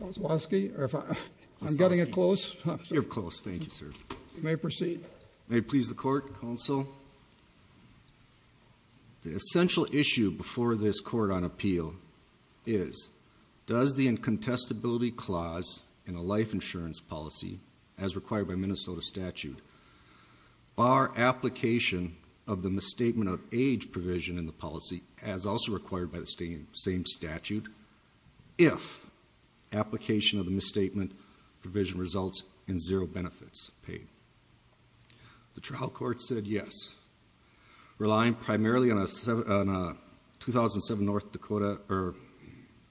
The essential issue before this court on appeal is does the incontestability clause in a life insurance policy, as required by Minnesota statute, bar application of the misstatement of age provision in the policy, as also required by the same statute, if application of the misstatement provision results in zero benefits paid? The trial court said yes. Relying primarily on a 2007 North Dakota or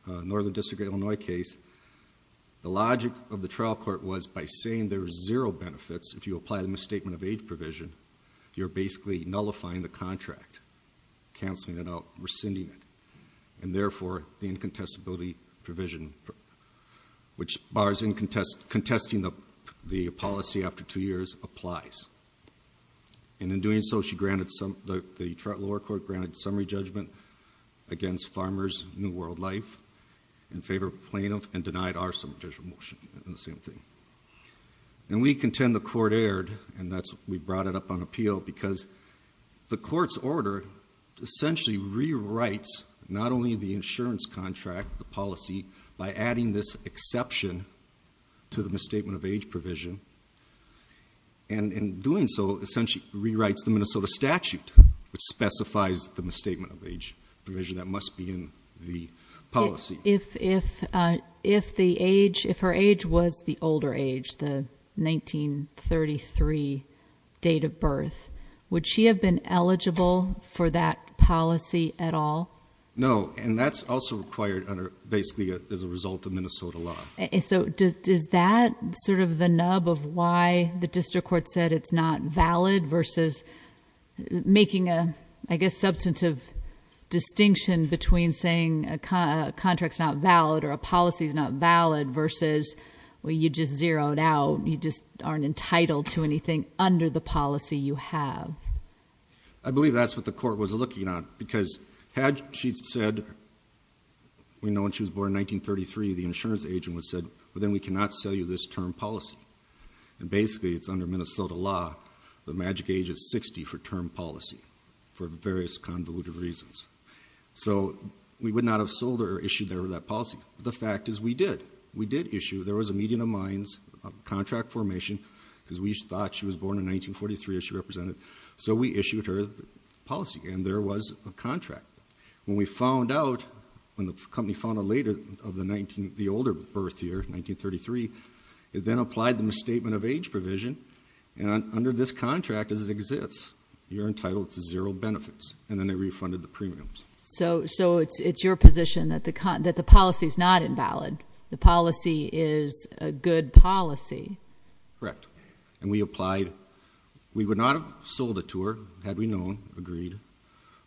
Northern District of Illinois case, the logic of the trial court was by saying there are zero benefits if you apply the misstatement of age provision, you're basically nullifying the contract, cancelling it out, rescinding it, and therefore the incontestability provision, which bars contesting the policy after two years, applies. And in doing so, the lower court granted summary judgment against Farmers New World Life in favor of plaintiff and denied our summary judgment motion on the same thing. And we contend the court erred, and we brought it up on appeal, because the court's order essentially rewrites not only the insurance contract, the policy, by adding this exception to the misstatement of age provision, and in doing so, essentially rewrites the Minnesota statute, which specifies the misstatement of age provision that must be in the policy. And if the age, if her age was the older age, the 1933 date of birth, would she have been eligible for that policy at all? No. And that's also required basically as a result of Minnesota law. So is that sort of the nub of why the district court said it's not valid versus making a, I guess, substantive distinction between saying a contract's not valid or a policy's not valid versus, well, you just zeroed out. You just aren't entitled to anything under the policy you have. I believe that's what the court was looking at, because had she said, we know when she was born in 1933, the insurance agent would have said, well, then we cannot sell you this term policy. And basically, it's under Minnesota law, the magic age is 60 for term policy for various convoluted reasons. So we would not have sold her or issued her that policy. The fact is, we did. We did issue. There was a meeting of minds, a contract formation, because we thought she was born in 1943, as she represented. So we issued her the policy, and there was a contract. When we found out, when the company found out later of the older birth year, 1933, it then applied the misstatement of age provision. And under this contract, as it exists, you're entitled to zero benefits. And then they refunded the premiums. So it's your position that the policy's not invalid. The policy is a good policy. Correct. And we applied. We would not have sold it to her, had we known, agreed.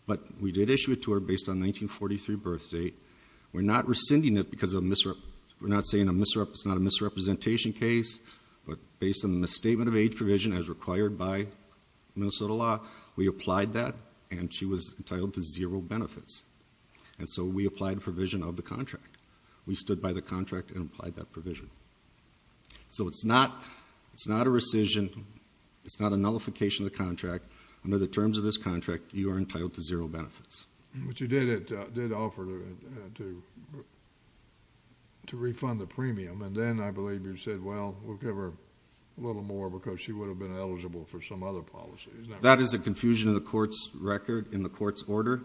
But we did issue it to her based on 1943 birth date. We're not rescinding it because of a misrep. It's a misrepresentation case, but based on the misstatement of age provision, as required by Minnesota law, we applied that, and she was entitled to zero benefits. And so we applied a provision of the contract. We stood by the contract and applied that provision. So it's not a rescission. It's not a nullification of the contract. Under the terms of this contract, you are entitled to zero benefits. But you did offer to refund the premium. And then I believe you said, well, we'll give her a little more because she would have been eligible for some other policy. That is a confusion in the court's record, in the court's order.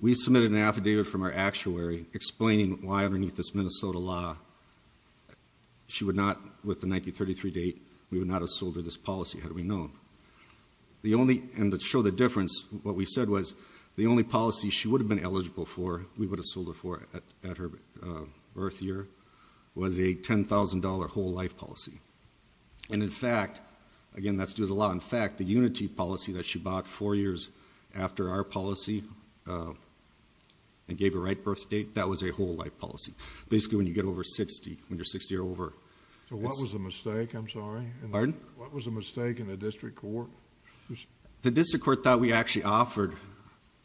We submitted an affidavit from our actuary explaining why underneath this Minnesota law, she would not, with the 1933 date, we would not have sold her this policy, had we known. The only, and to show the difference, what we said was the only policy she would have been eligible for, we would have sold her for at her birth year, was a $10,000 whole life policy. And in fact, again, that's due to the law. In fact, the unity policy that she bought four years after our policy and gave her right birth date, that was a whole life policy. Basically, when you get over 60, when you're 60 or over. So what was the mistake? I'm sorry. Pardon? What was the mistake in the district court? The district court thought we actually offered,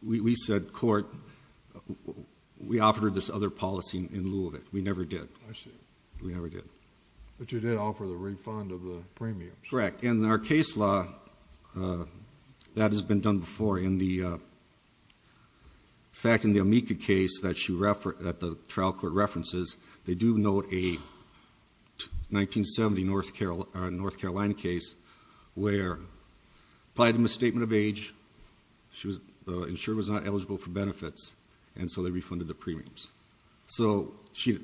we said, court, we offered her this other policy in lieu of it. We never did. I see. We never did. But you did offer the refund of the premiums. Correct. In our case law, that has been done before. In fact, in the Amica case that the trial court references, they do note a 1970 North Carolina case where applied a misstatement of age, the insurer was not eligible for benefits, and so they refunded the premiums. So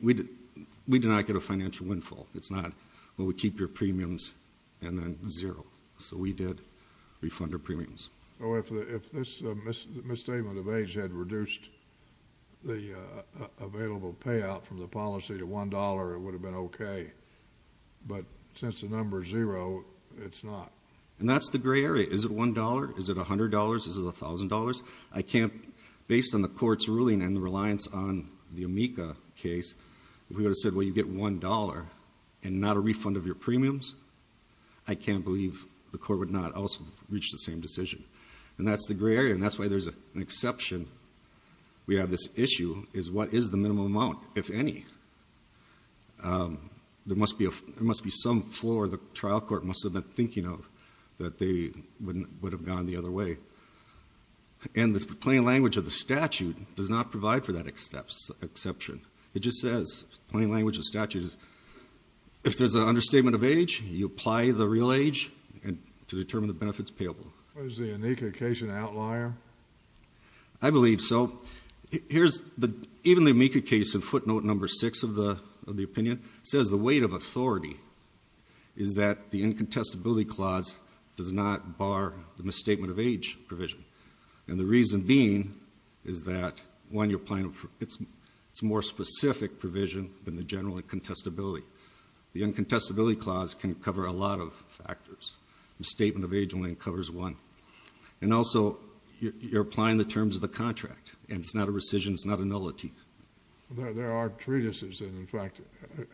we did not get a financial windfall. It's not, well, we keep your premiums and then zero. So we did refund her premiums. Oh, if this misstatement of age had reduced the available payout from the policy to $1, it would have been OK. But since the number is zero, it's not. And that's the gray area. Is it $1? Is it $100? Is it $1,000? I can't, based on the court's ruling and the reliance on the Amica case, we would have said, well, you get $1 and not a refund of your premiums. I can't believe the court would not also reach the same decision. And that's the gray area. And that's why there's an exception. We have this issue, is what is the minimum amount? If any, there must be some floor the trial court must have been thinking of that they would have gone the other way. And the plain language of the statute does not provide for that exception. It just says, plain language of the statute, if there's an understatement of age, you apply the real age to determine the benefits payable. Was the Amica case an outlier? I believe so. Even the Amica case in footnote number six of the opinion says the weight of authority is that the incontestability clause does not bar the misstatement of age provision. And the reason being is that, one, it's a more specific provision than the general incontestability. The incontestability clause can cover a lot of factors. Misstatement of age only covers one. And also, you're applying the terms of the contract. And it's not a rescission. It's not a nullity. There are treatises that, in fact,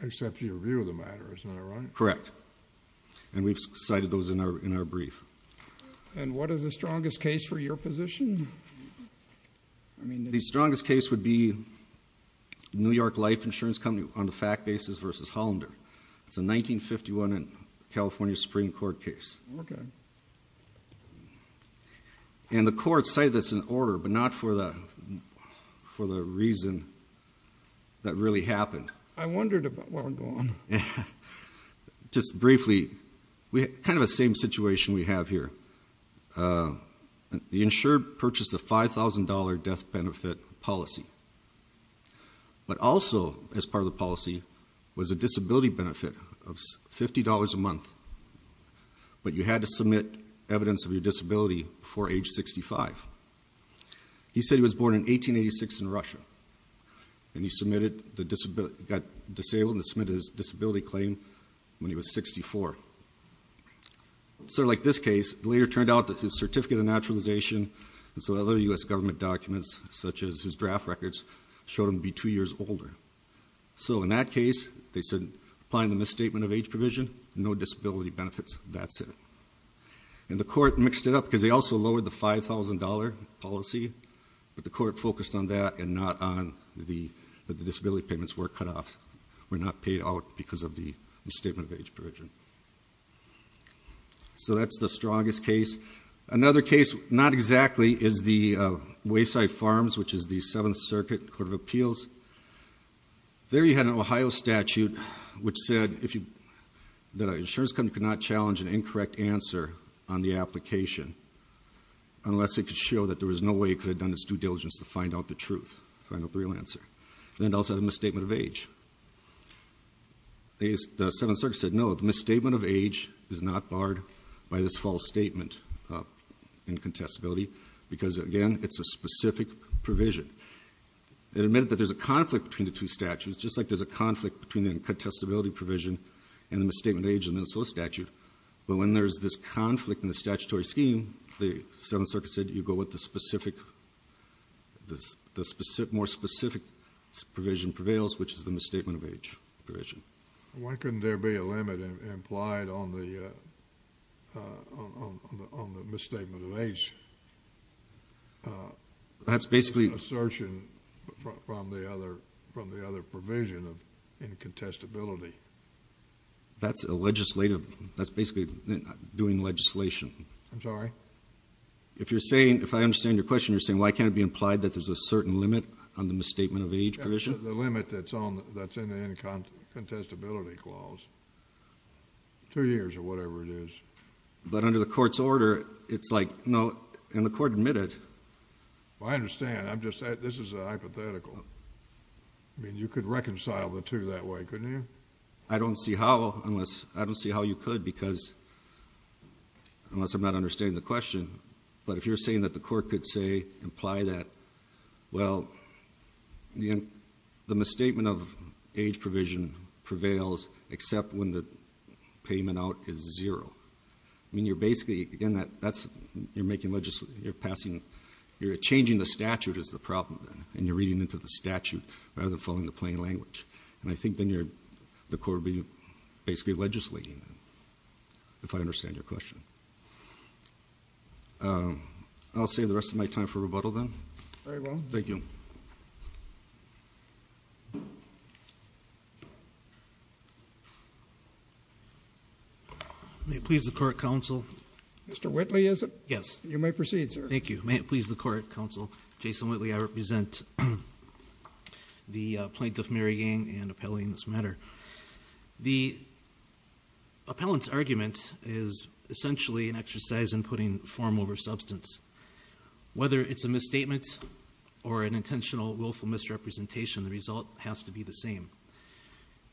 accept your view of the matter. Isn't that right? Correct. And we've cited those in our brief. And what is the strongest case for your position? The strongest case would be New York Life Insurance Company on the fact basis versus Hollander. It's a 1951 California Supreme Court case. OK. And the court cited this in order, but not for the reason that really happened. I wondered about what would go on. Just briefly, kind of the same situation we have here. The insured purchased a $5,000 death benefit policy. But also, as part of the policy, was a disability benefit of $50 a month. But you had to submit evidence of your disability before age 65. He said he was born in 1886 in Russia. And he got disabled and submitted his disability claim when he was 64. So like this case, it later turned out that his certificate of naturalization and some other US government documents, such as his draft records, showed him to be two years older. So in that case, they said, applying the misstatement of age provision, no disability benefits. That's it. And the court mixed it up, because they also lowered the $5,000 policy. But the court focused on that and not on the disability payments were cut off, were not paid out because of the misstatement of age provision. So that's the strongest case. Another case, not exactly, is the Wayside Farms, which is the Seventh Circuit Court of Appeals. There you had an Ohio statute which said that an insurance company could not challenge an incorrect answer on the application unless it could show that there was no way it could have done its due diligence to find out the truth, find out the real answer. Then it also had a misstatement of age. The Seventh Circuit said, no, the misstatement of age is not barred by this false statement in contestability, because again, it's a specific provision. It admitted that there's a conflict between the two statutes, just like there's a conflict between the contestability provision and the misstatement of age in the Minnesota statute. But when there's this conflict in the statutory scheme, the Seventh Circuit said you go with the specific, more specific provision prevails, which is the misstatement of age provision. Why couldn't there be a limit implied on the misstatement of age? That's basically... Assertion from the other provision of incontestability. That's a legislative, that's basically doing legislation. I'm sorry? If you're saying, if I understand your question, you're saying why can't it be implied that there's a certain limit on the misstatement of age provision? The limit that's in the incontestability clause, two years or whatever it is. But under the court's order, it's like, no, and the court admitted... I understand, I'm just, this is a hypothetical. I mean, you could reconcile the two that way, couldn't you? I don't see how, unless, I don't see how you could, because, unless I'm not understanding the question, but if you're saying that the court could say, imply that, well, the misstatement of age provision prevails except when the payment out is zero. I mean, you're basically, again, that's, you're making, you're passing, you're changing the statute is the problem then, and you're reading into the statute rather than following the plain language. And I think then you're, the court would be basically legislating, if I understand your question. I'll save the rest of my time for rebuttal then. Very well. Thank you. May it please the court, counsel. Mr. Whitley, is it? Yes. You may proceed, sir. Thank you. May it please the court, counsel. Jason Whitley, I represent the plaintiff, Mary Yang, and appellee in this matter. The appellant's argument is essentially an exercise in putting form over substance. Whether it's a misstatement or an intentional willful misrepresentation, the result has to be the same.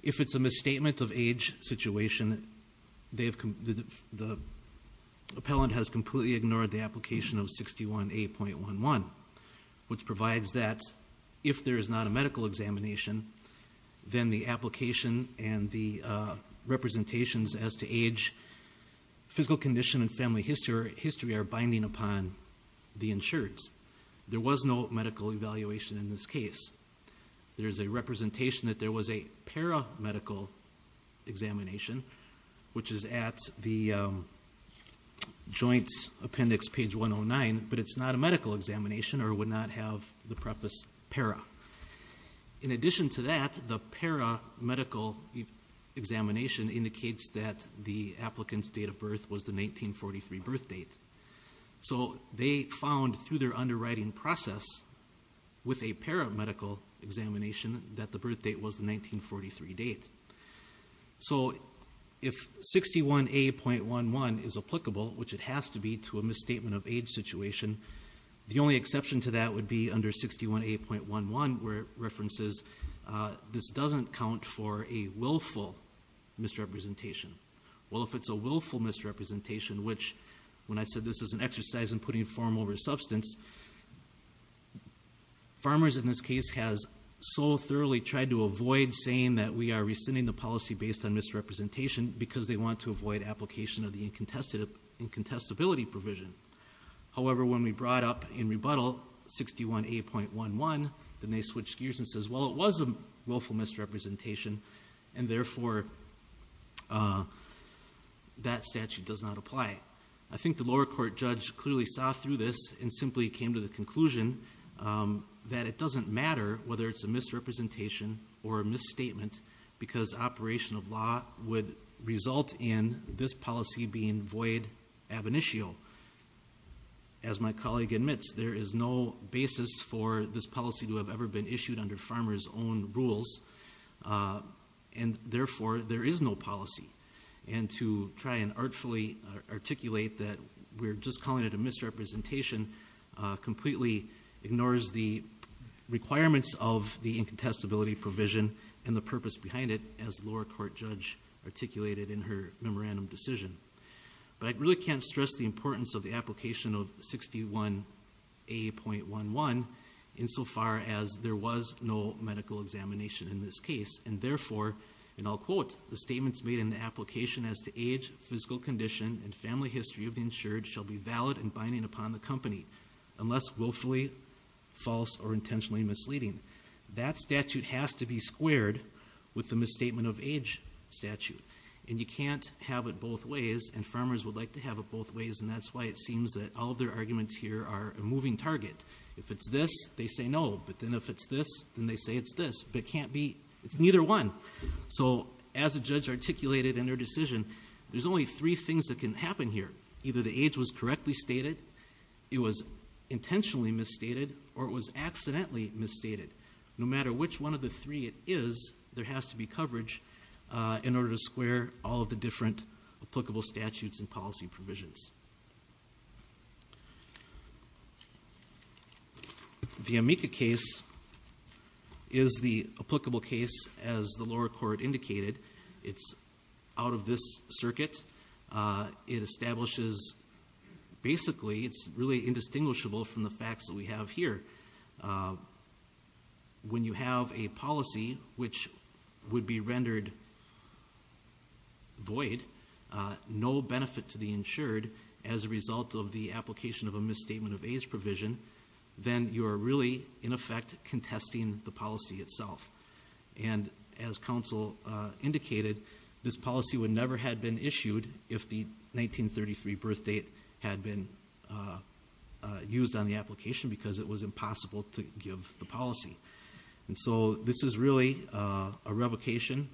If it's a misstatement of age situation, the appellant has completely ignored the application of 61A.11, which provides that if there is not a medical examination, then the application and the representations as to age, physical condition, and family history are binding upon the insureds. There was no medical evaluation in this case. There's a representation that there was a paramedical examination, which is at the joint appendix page 109, but it's not a medical examination or would not have the preface para. In addition to that, the paramedical examination indicates that the applicant's date of birth was the 1943 birth date. So they found through their underwriting process with a paramedical examination that the birth date was the 1943 date. So if 61A.11 is applicable, which it has to be to a misstatement of age situation, the only exception to that would be under 61A.11 where it references this doesn't count for a willful misrepresentation. Well, if it's a willful misrepresentation, which when I said this is an exercise in putting form over substance, farmers in this case has so thoroughly tried to avoid saying that we are rescinding the policy based on misrepresentation because they want to avoid application of the incontestability provision. However, when we brought up in rebuttal 61A.11, then they switched gears and says, well, it was a willful misrepresentation, and therefore that statute does not apply. I think the lower court judge clearly saw through this and simply came to the conclusion that it doesn't matter whether it's a misrepresentation or a misstatement because operation of law would result in this policy being void ab initio. As my colleague admits, there is no basis for this policy to have ever been issued under farmers' own rules, and therefore there is no policy. And to try and artfully articulate that we're just calling it a misrepresentation completely ignores the requirements of the incontestability provision and the purpose behind it as the lower court judge articulated in her memorandum decision. But I really can't stress the importance of the application of 61A.11 insofar as there was no medical examination in this case, and therefore, and I'll quote, the statements made in the application as to age, physical condition, and family history of the insured shall be valid and binding upon the company unless willfully false or intentionally misleading. That statute has to be squared with the misstatement of age statute, and you can't have it both ways, and farmers would like to have it both ways, and that's why it seems that all of their arguments here are a moving target. If it's this, they say no, but then if it's this, then they say it's this, but it can't be, it's neither one. So as a judge articulated in her decision, there's only three things that can happen here. Either the age was correctly stated, it was intentionally misstated, or it was accidentally misstated. No matter which one of the three it is, there has to be coverage in order to square all of the different applicable statutes and policy provisions. The Amica case is the applicable case as the lower court indicated. It's out of this circuit. It establishes, basically, it's really indistinguishable from the facts that we have here. When you have a policy which would be rendered void, no benefit to the insured as a result of the application of a misstatement of age provision, then you are really, in effect, contesting the policy itself. And as counsel indicated, this policy would never have been issued if the 1933 birth date had been used on the application because it was impossible to give the policy. And so this is really a revocation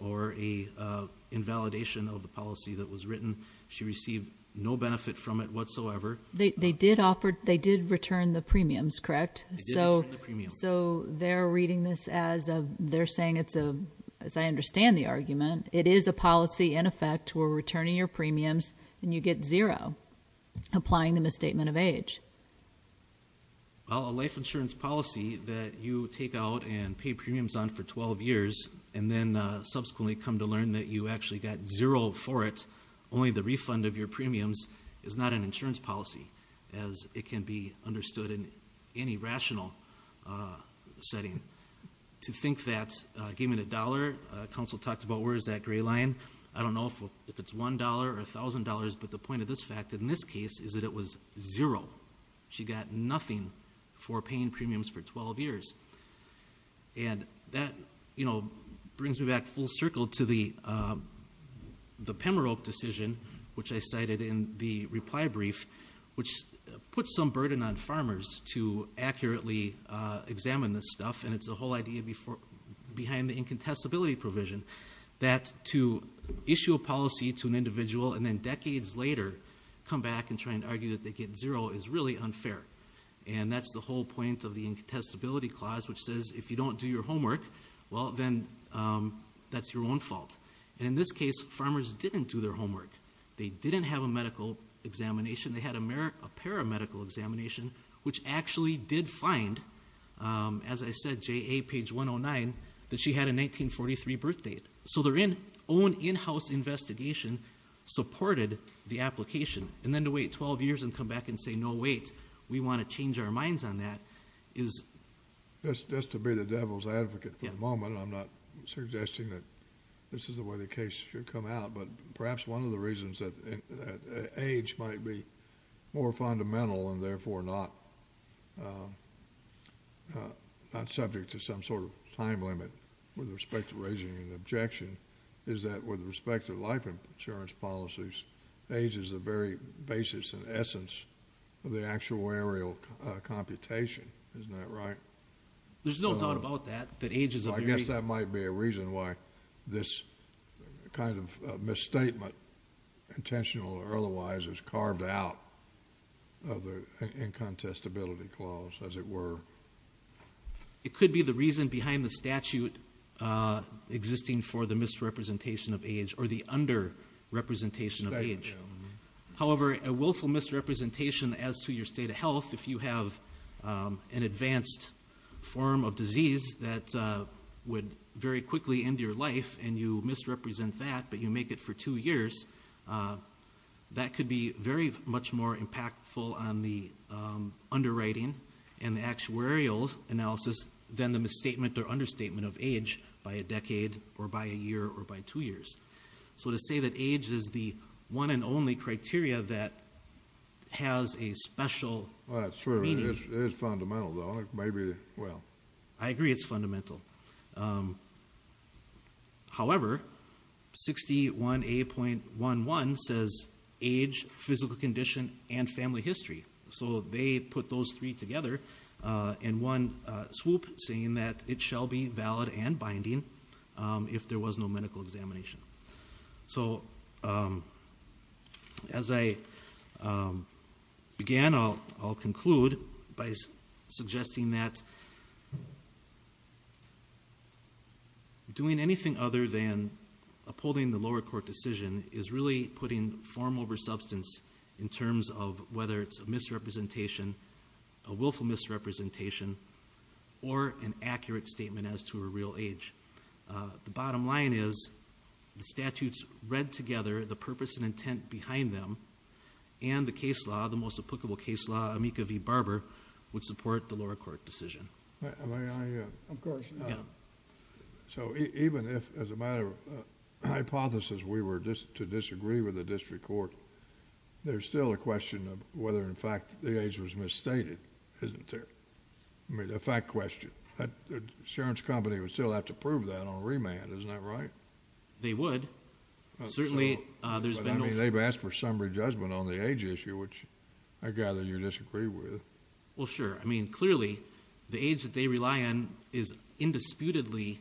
or an invalidation of the policy that was written. She received no benefit from it whatsoever. They did offer, they did return the premiums, correct? They did return the premiums. So they're reading this as a, they're saying it's a, as I understand the argument, it is a policy in effect where we're returning your premiums and you get zero applying the misstatement of age. Well, a life insurance policy that you take out and pay premiums on for 12 years and then subsequently come to learn that you actually got zero for it, only the refund of your premiums is not an insurance policy, as it can be understood in any rational setting. To think that, give me the dollar, counsel talked about where is that gray line. I don't know if it's $1 or $1,000, but the point of this fact in this case is that it was zero. She got nothing for paying premiums for 12 years. And that, you know, brings me back full circle to the Pembroke decision, which I cited in the reply brief, which puts some burden on farmers to accurately examine this stuff. And it's the whole idea behind the incontestability provision, that to issue a policy to an individual and then decades later, come back and try and argue that they get zero is really unfair. And that's the whole point of the incontestability clause, which says if you don't do your homework, well, then that's your own fault. And in this case, farmers didn't do their homework. They didn't have a medical examination. They had a paramedical examination, which actually did find, as I said, JA page 109, that she had a 1943 birth date. So their own in-house investigation supported the application. And then to wait 12 years and come back and say, no, wait, we want to change our minds on that, is... Just to be the devil's advocate for the moment, I'm not suggesting that this is the way the case should come out. But perhaps one of the reasons that age might be more fundamental and therefore not subject to some sort of time limit with respect to raising an objection is that with respect to life insurance policies, age is the very basis and essence of the actuarial computation. Isn't that right? There's no doubt about that, that age is a very... I guess that might be a reason why this kind of misstatement, intentional or otherwise, is carved out of the incontestability clause, as it were. It could be the reason behind the statute existing for the misrepresentation of age or the under-representation of age. However, a willful misrepresentation as to your state of health, if you have an advanced form of disease that would very quickly end your life and you misrepresent that, but you make it for two years, that could be very much more impactful on the underwriting and the actuarial analysis than the misstatement or understatement of age by a decade or by a year or by two years. So to say that age is the one and only criteria that has a special meaning... That's true. It is fundamental, though. Maybe, well... I agree it's fundamental. However, 61A.11 says age, physical condition, and family history. So they put those three together in one swoop, saying that it shall be valid and binding if there was no medical examination. So, as I began, I'll conclude by suggesting that... ..doing anything other than upholding the lower court decision is really putting form over substance in terms of whether it's a misrepresentation, a willful misrepresentation, or an accurate statement as to a real age. The bottom line is the statutes read together, the purpose and intent behind them, and the case law, the most applicable case law, Amica v. Barber, would support the lower court decision. May I...? Of course. So even if, as a matter of hypothesis, we were to disagree with the district court, there's still a question of whether, in fact, the age was misstated, isn't there? I mean, a fact question. That insurance company would still have to prove that on remand. Isn't that right? They would. Certainly, there's been no... But, I mean, they've asked for summary judgment on the age issue, which I gather you disagree with. Well, sure. I mean, clearly, the age that they rely on is indisputably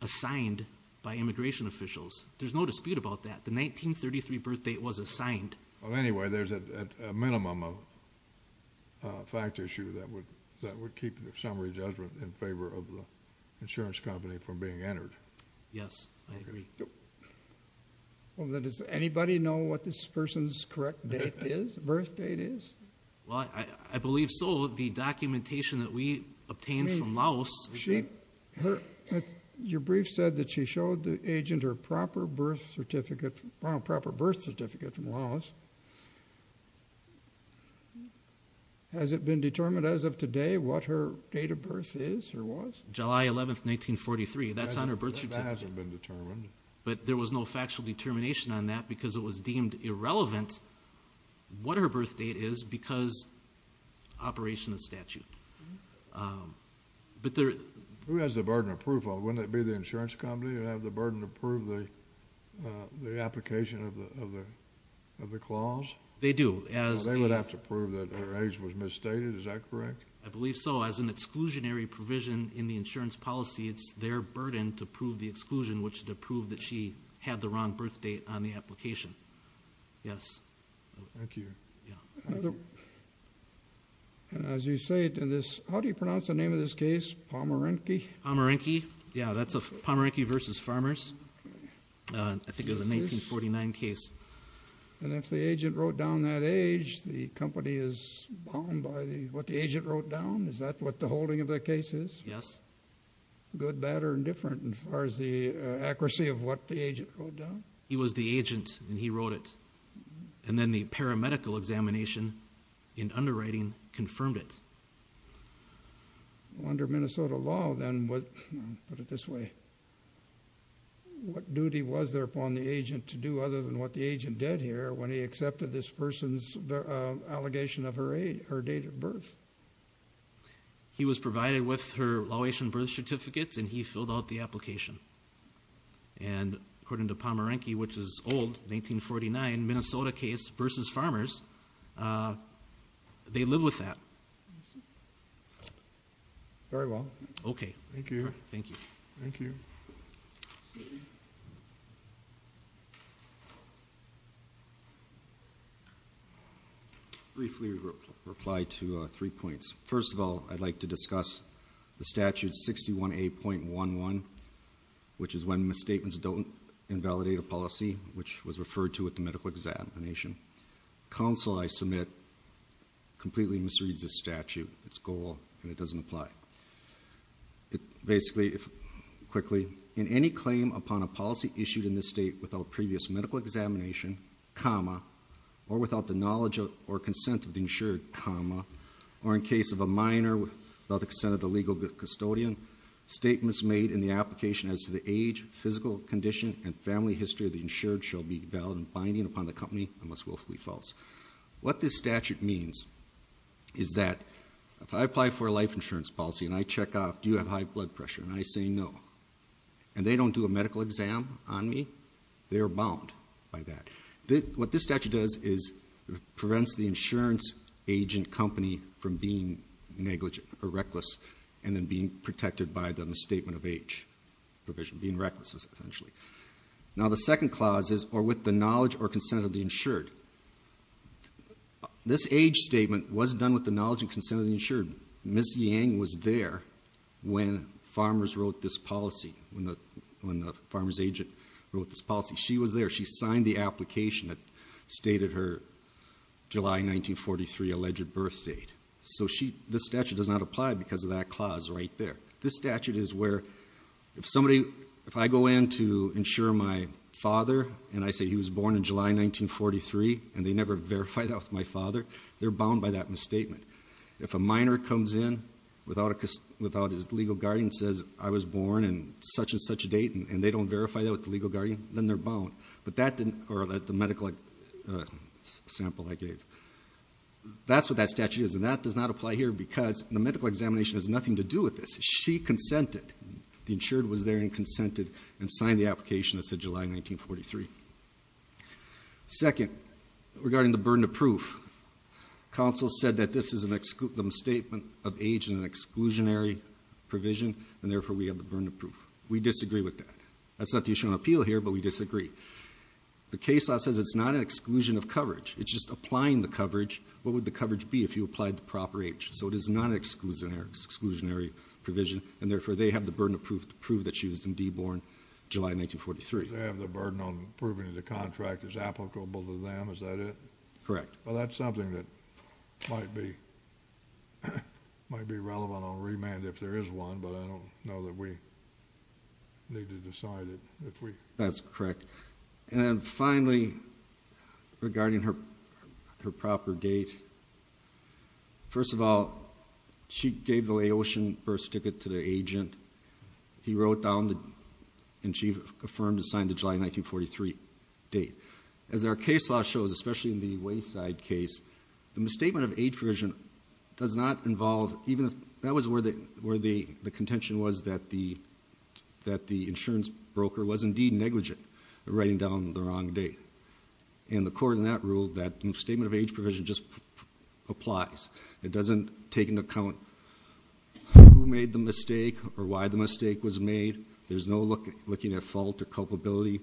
assigned by immigration officials. There's no dispute about that. The 1933 birth date was assigned. Well, anyway, there's a minimum of fact issue that would keep the summary judgment in favour of the insurance company from being entered. Yes, I agree. Well, does anybody know what this person's correct date is, birth date is? Well, I believe so. The documentation that we obtained from Laos... Your brief said that she showed the agent her proper birth certificate from Laos. Has it been determined as of today what her date of birth is or was? July 11th, 1943. That's on her birth certificate. That hasn't been determined. But there was no factual determination on that because it was deemed irrelevant what her birth date is because of operation of the statute. Who has the burden of proof? Wouldn't it be the insurance company who would have the burden to prove the application of the clause? They do. They would have to prove that her age was misstated. Is that correct? I believe so. As an exclusionary provision in the insurance policy, it's their burden to prove the exclusion, which is to prove that she had the wrong birth date on the application. Yes. Thank you. Yeah. As you say, how do you pronounce the name of this case? Pomerinky? Pomerinky. Yeah, that's Pomerinky v. Farmers. I think it was a 1949 case. And if the agent wrote down that age, the company is bound by what the agent wrote down? Is that what the holding of the case is? Yes. Good, bad, or indifferent as far as the accuracy of what the agent wrote down? He was the agent, and he wrote it. And then the paramedical examination in underwriting confirmed it. Under Minnesota law, then, what... I'll put it this way. What duty was there upon the agent to do other than what the agent did here when he accepted this person's allegation of her date of birth? He was provided with her law-abiding birth certificates, and he filled out the application. And according to Pomerinky, which is old, 1949 Minnesota case v. Farmers, they live with that. Very well. Okay. Thank you. Thank you. Thank you. Briefly reply to three points. First of all, I'd like to discuss the statute 61A.11, which is when misstatements don't invalidate a policy, which was referred to at the medical examination. Counsel, I submit, completely misreads this statute, its goal, and it doesn't apply. Basically, quickly, in any claim upon a policy issued in this state without previous medical examination, comma, or without the knowledge or consent of the insured, comma, or in case of a minor without the consent of the legal custodian, statements made in the application as to the age, physical condition, and family history of the insured shall be valid and binding upon the company unless willfully false. What this statute means is that if I apply for a life insurance policy and I check off, do you have high blood pressure, and I say no, and they don't do a medical exam on me, they are bound by that. What this statute does is prevents the insurance agent company from being negligent or reckless and then being protected by the statement of age provision, being reckless, essentially. Now, the second clause is or with the knowledge or consent of the insured. This age statement was done with the knowledge and consent of the insured. Ms. Yang was there when farmers wrote this policy, when the farmer's agent wrote this policy. She was there. She signed the application that stated her July 1943 alleged birth date. So she, this statute does not apply because of that clause right there. This statute is where if somebody, if I go in to insure my father, and I say he was born in July 1943, and they never verified that with my father, they're bound by that misstatement. If a minor comes in without his legal guardian and says, I was born on such and such a date, and they don't verify that with the legal guardian, then they're bound. But that didn't, or the medical sample I gave, that's what that statute is. And that does not apply here because the medical examination has nothing to do with this. She consented, the insured was there and consented, and signed the application that said July 1943. Second, regarding the burden of proof, counsel said that this is a misstatement of age and an exclusionary provision, and therefore we have the burden of proof. We disagree with that. That's not the issue on appeal here, but we disagree. The case law says it's not an exclusion of coverage. It's just applying the coverage. What would the coverage be if you applied the proper age? So it is not an exclusionary provision, and therefore they have the burden of proof to prove that she was indeed born July 1943. They have the burden of proving the contract is applicable to them. Is that it? Correct. Well, that's something that might be relevant on remand if there is one, but I don't know that we need to decide it if we. That's correct. And finally, regarding her proper date. First of all, she gave the Laotian birth ticket to the agent. He wrote down and she affirmed and signed the July 1943 date. As our case law shows, especially in the Wayside case, the misstatement of age provision does not involve even if that was where the contention was that the insurance broker was indeed negligent in writing down the wrong date. And the court in that ruled that the misstatement of age provision just applies. It doesn't take into account who made the mistake or why the mistake was made. There's no looking at fault or culpability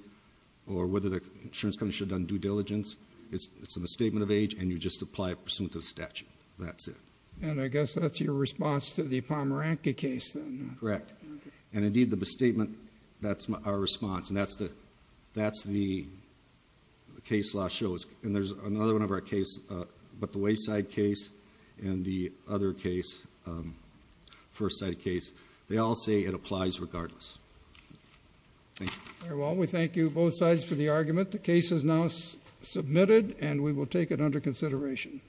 or whether the insurance company should have done due diligence. It's a misstatement of age, and you just apply it pursuant to the statute. That's it. And I guess that's your response to the Pomeranke case, then. Correct. And indeed, the misstatement, that's our response. And that's the case law shows. And there's another one of our case, but the Wayside case and the other case, First Side case, they all say it applies regardless. Thank you. Very well. We thank you, both sides, for the argument. The case is now submitted, and we will take it under consideration.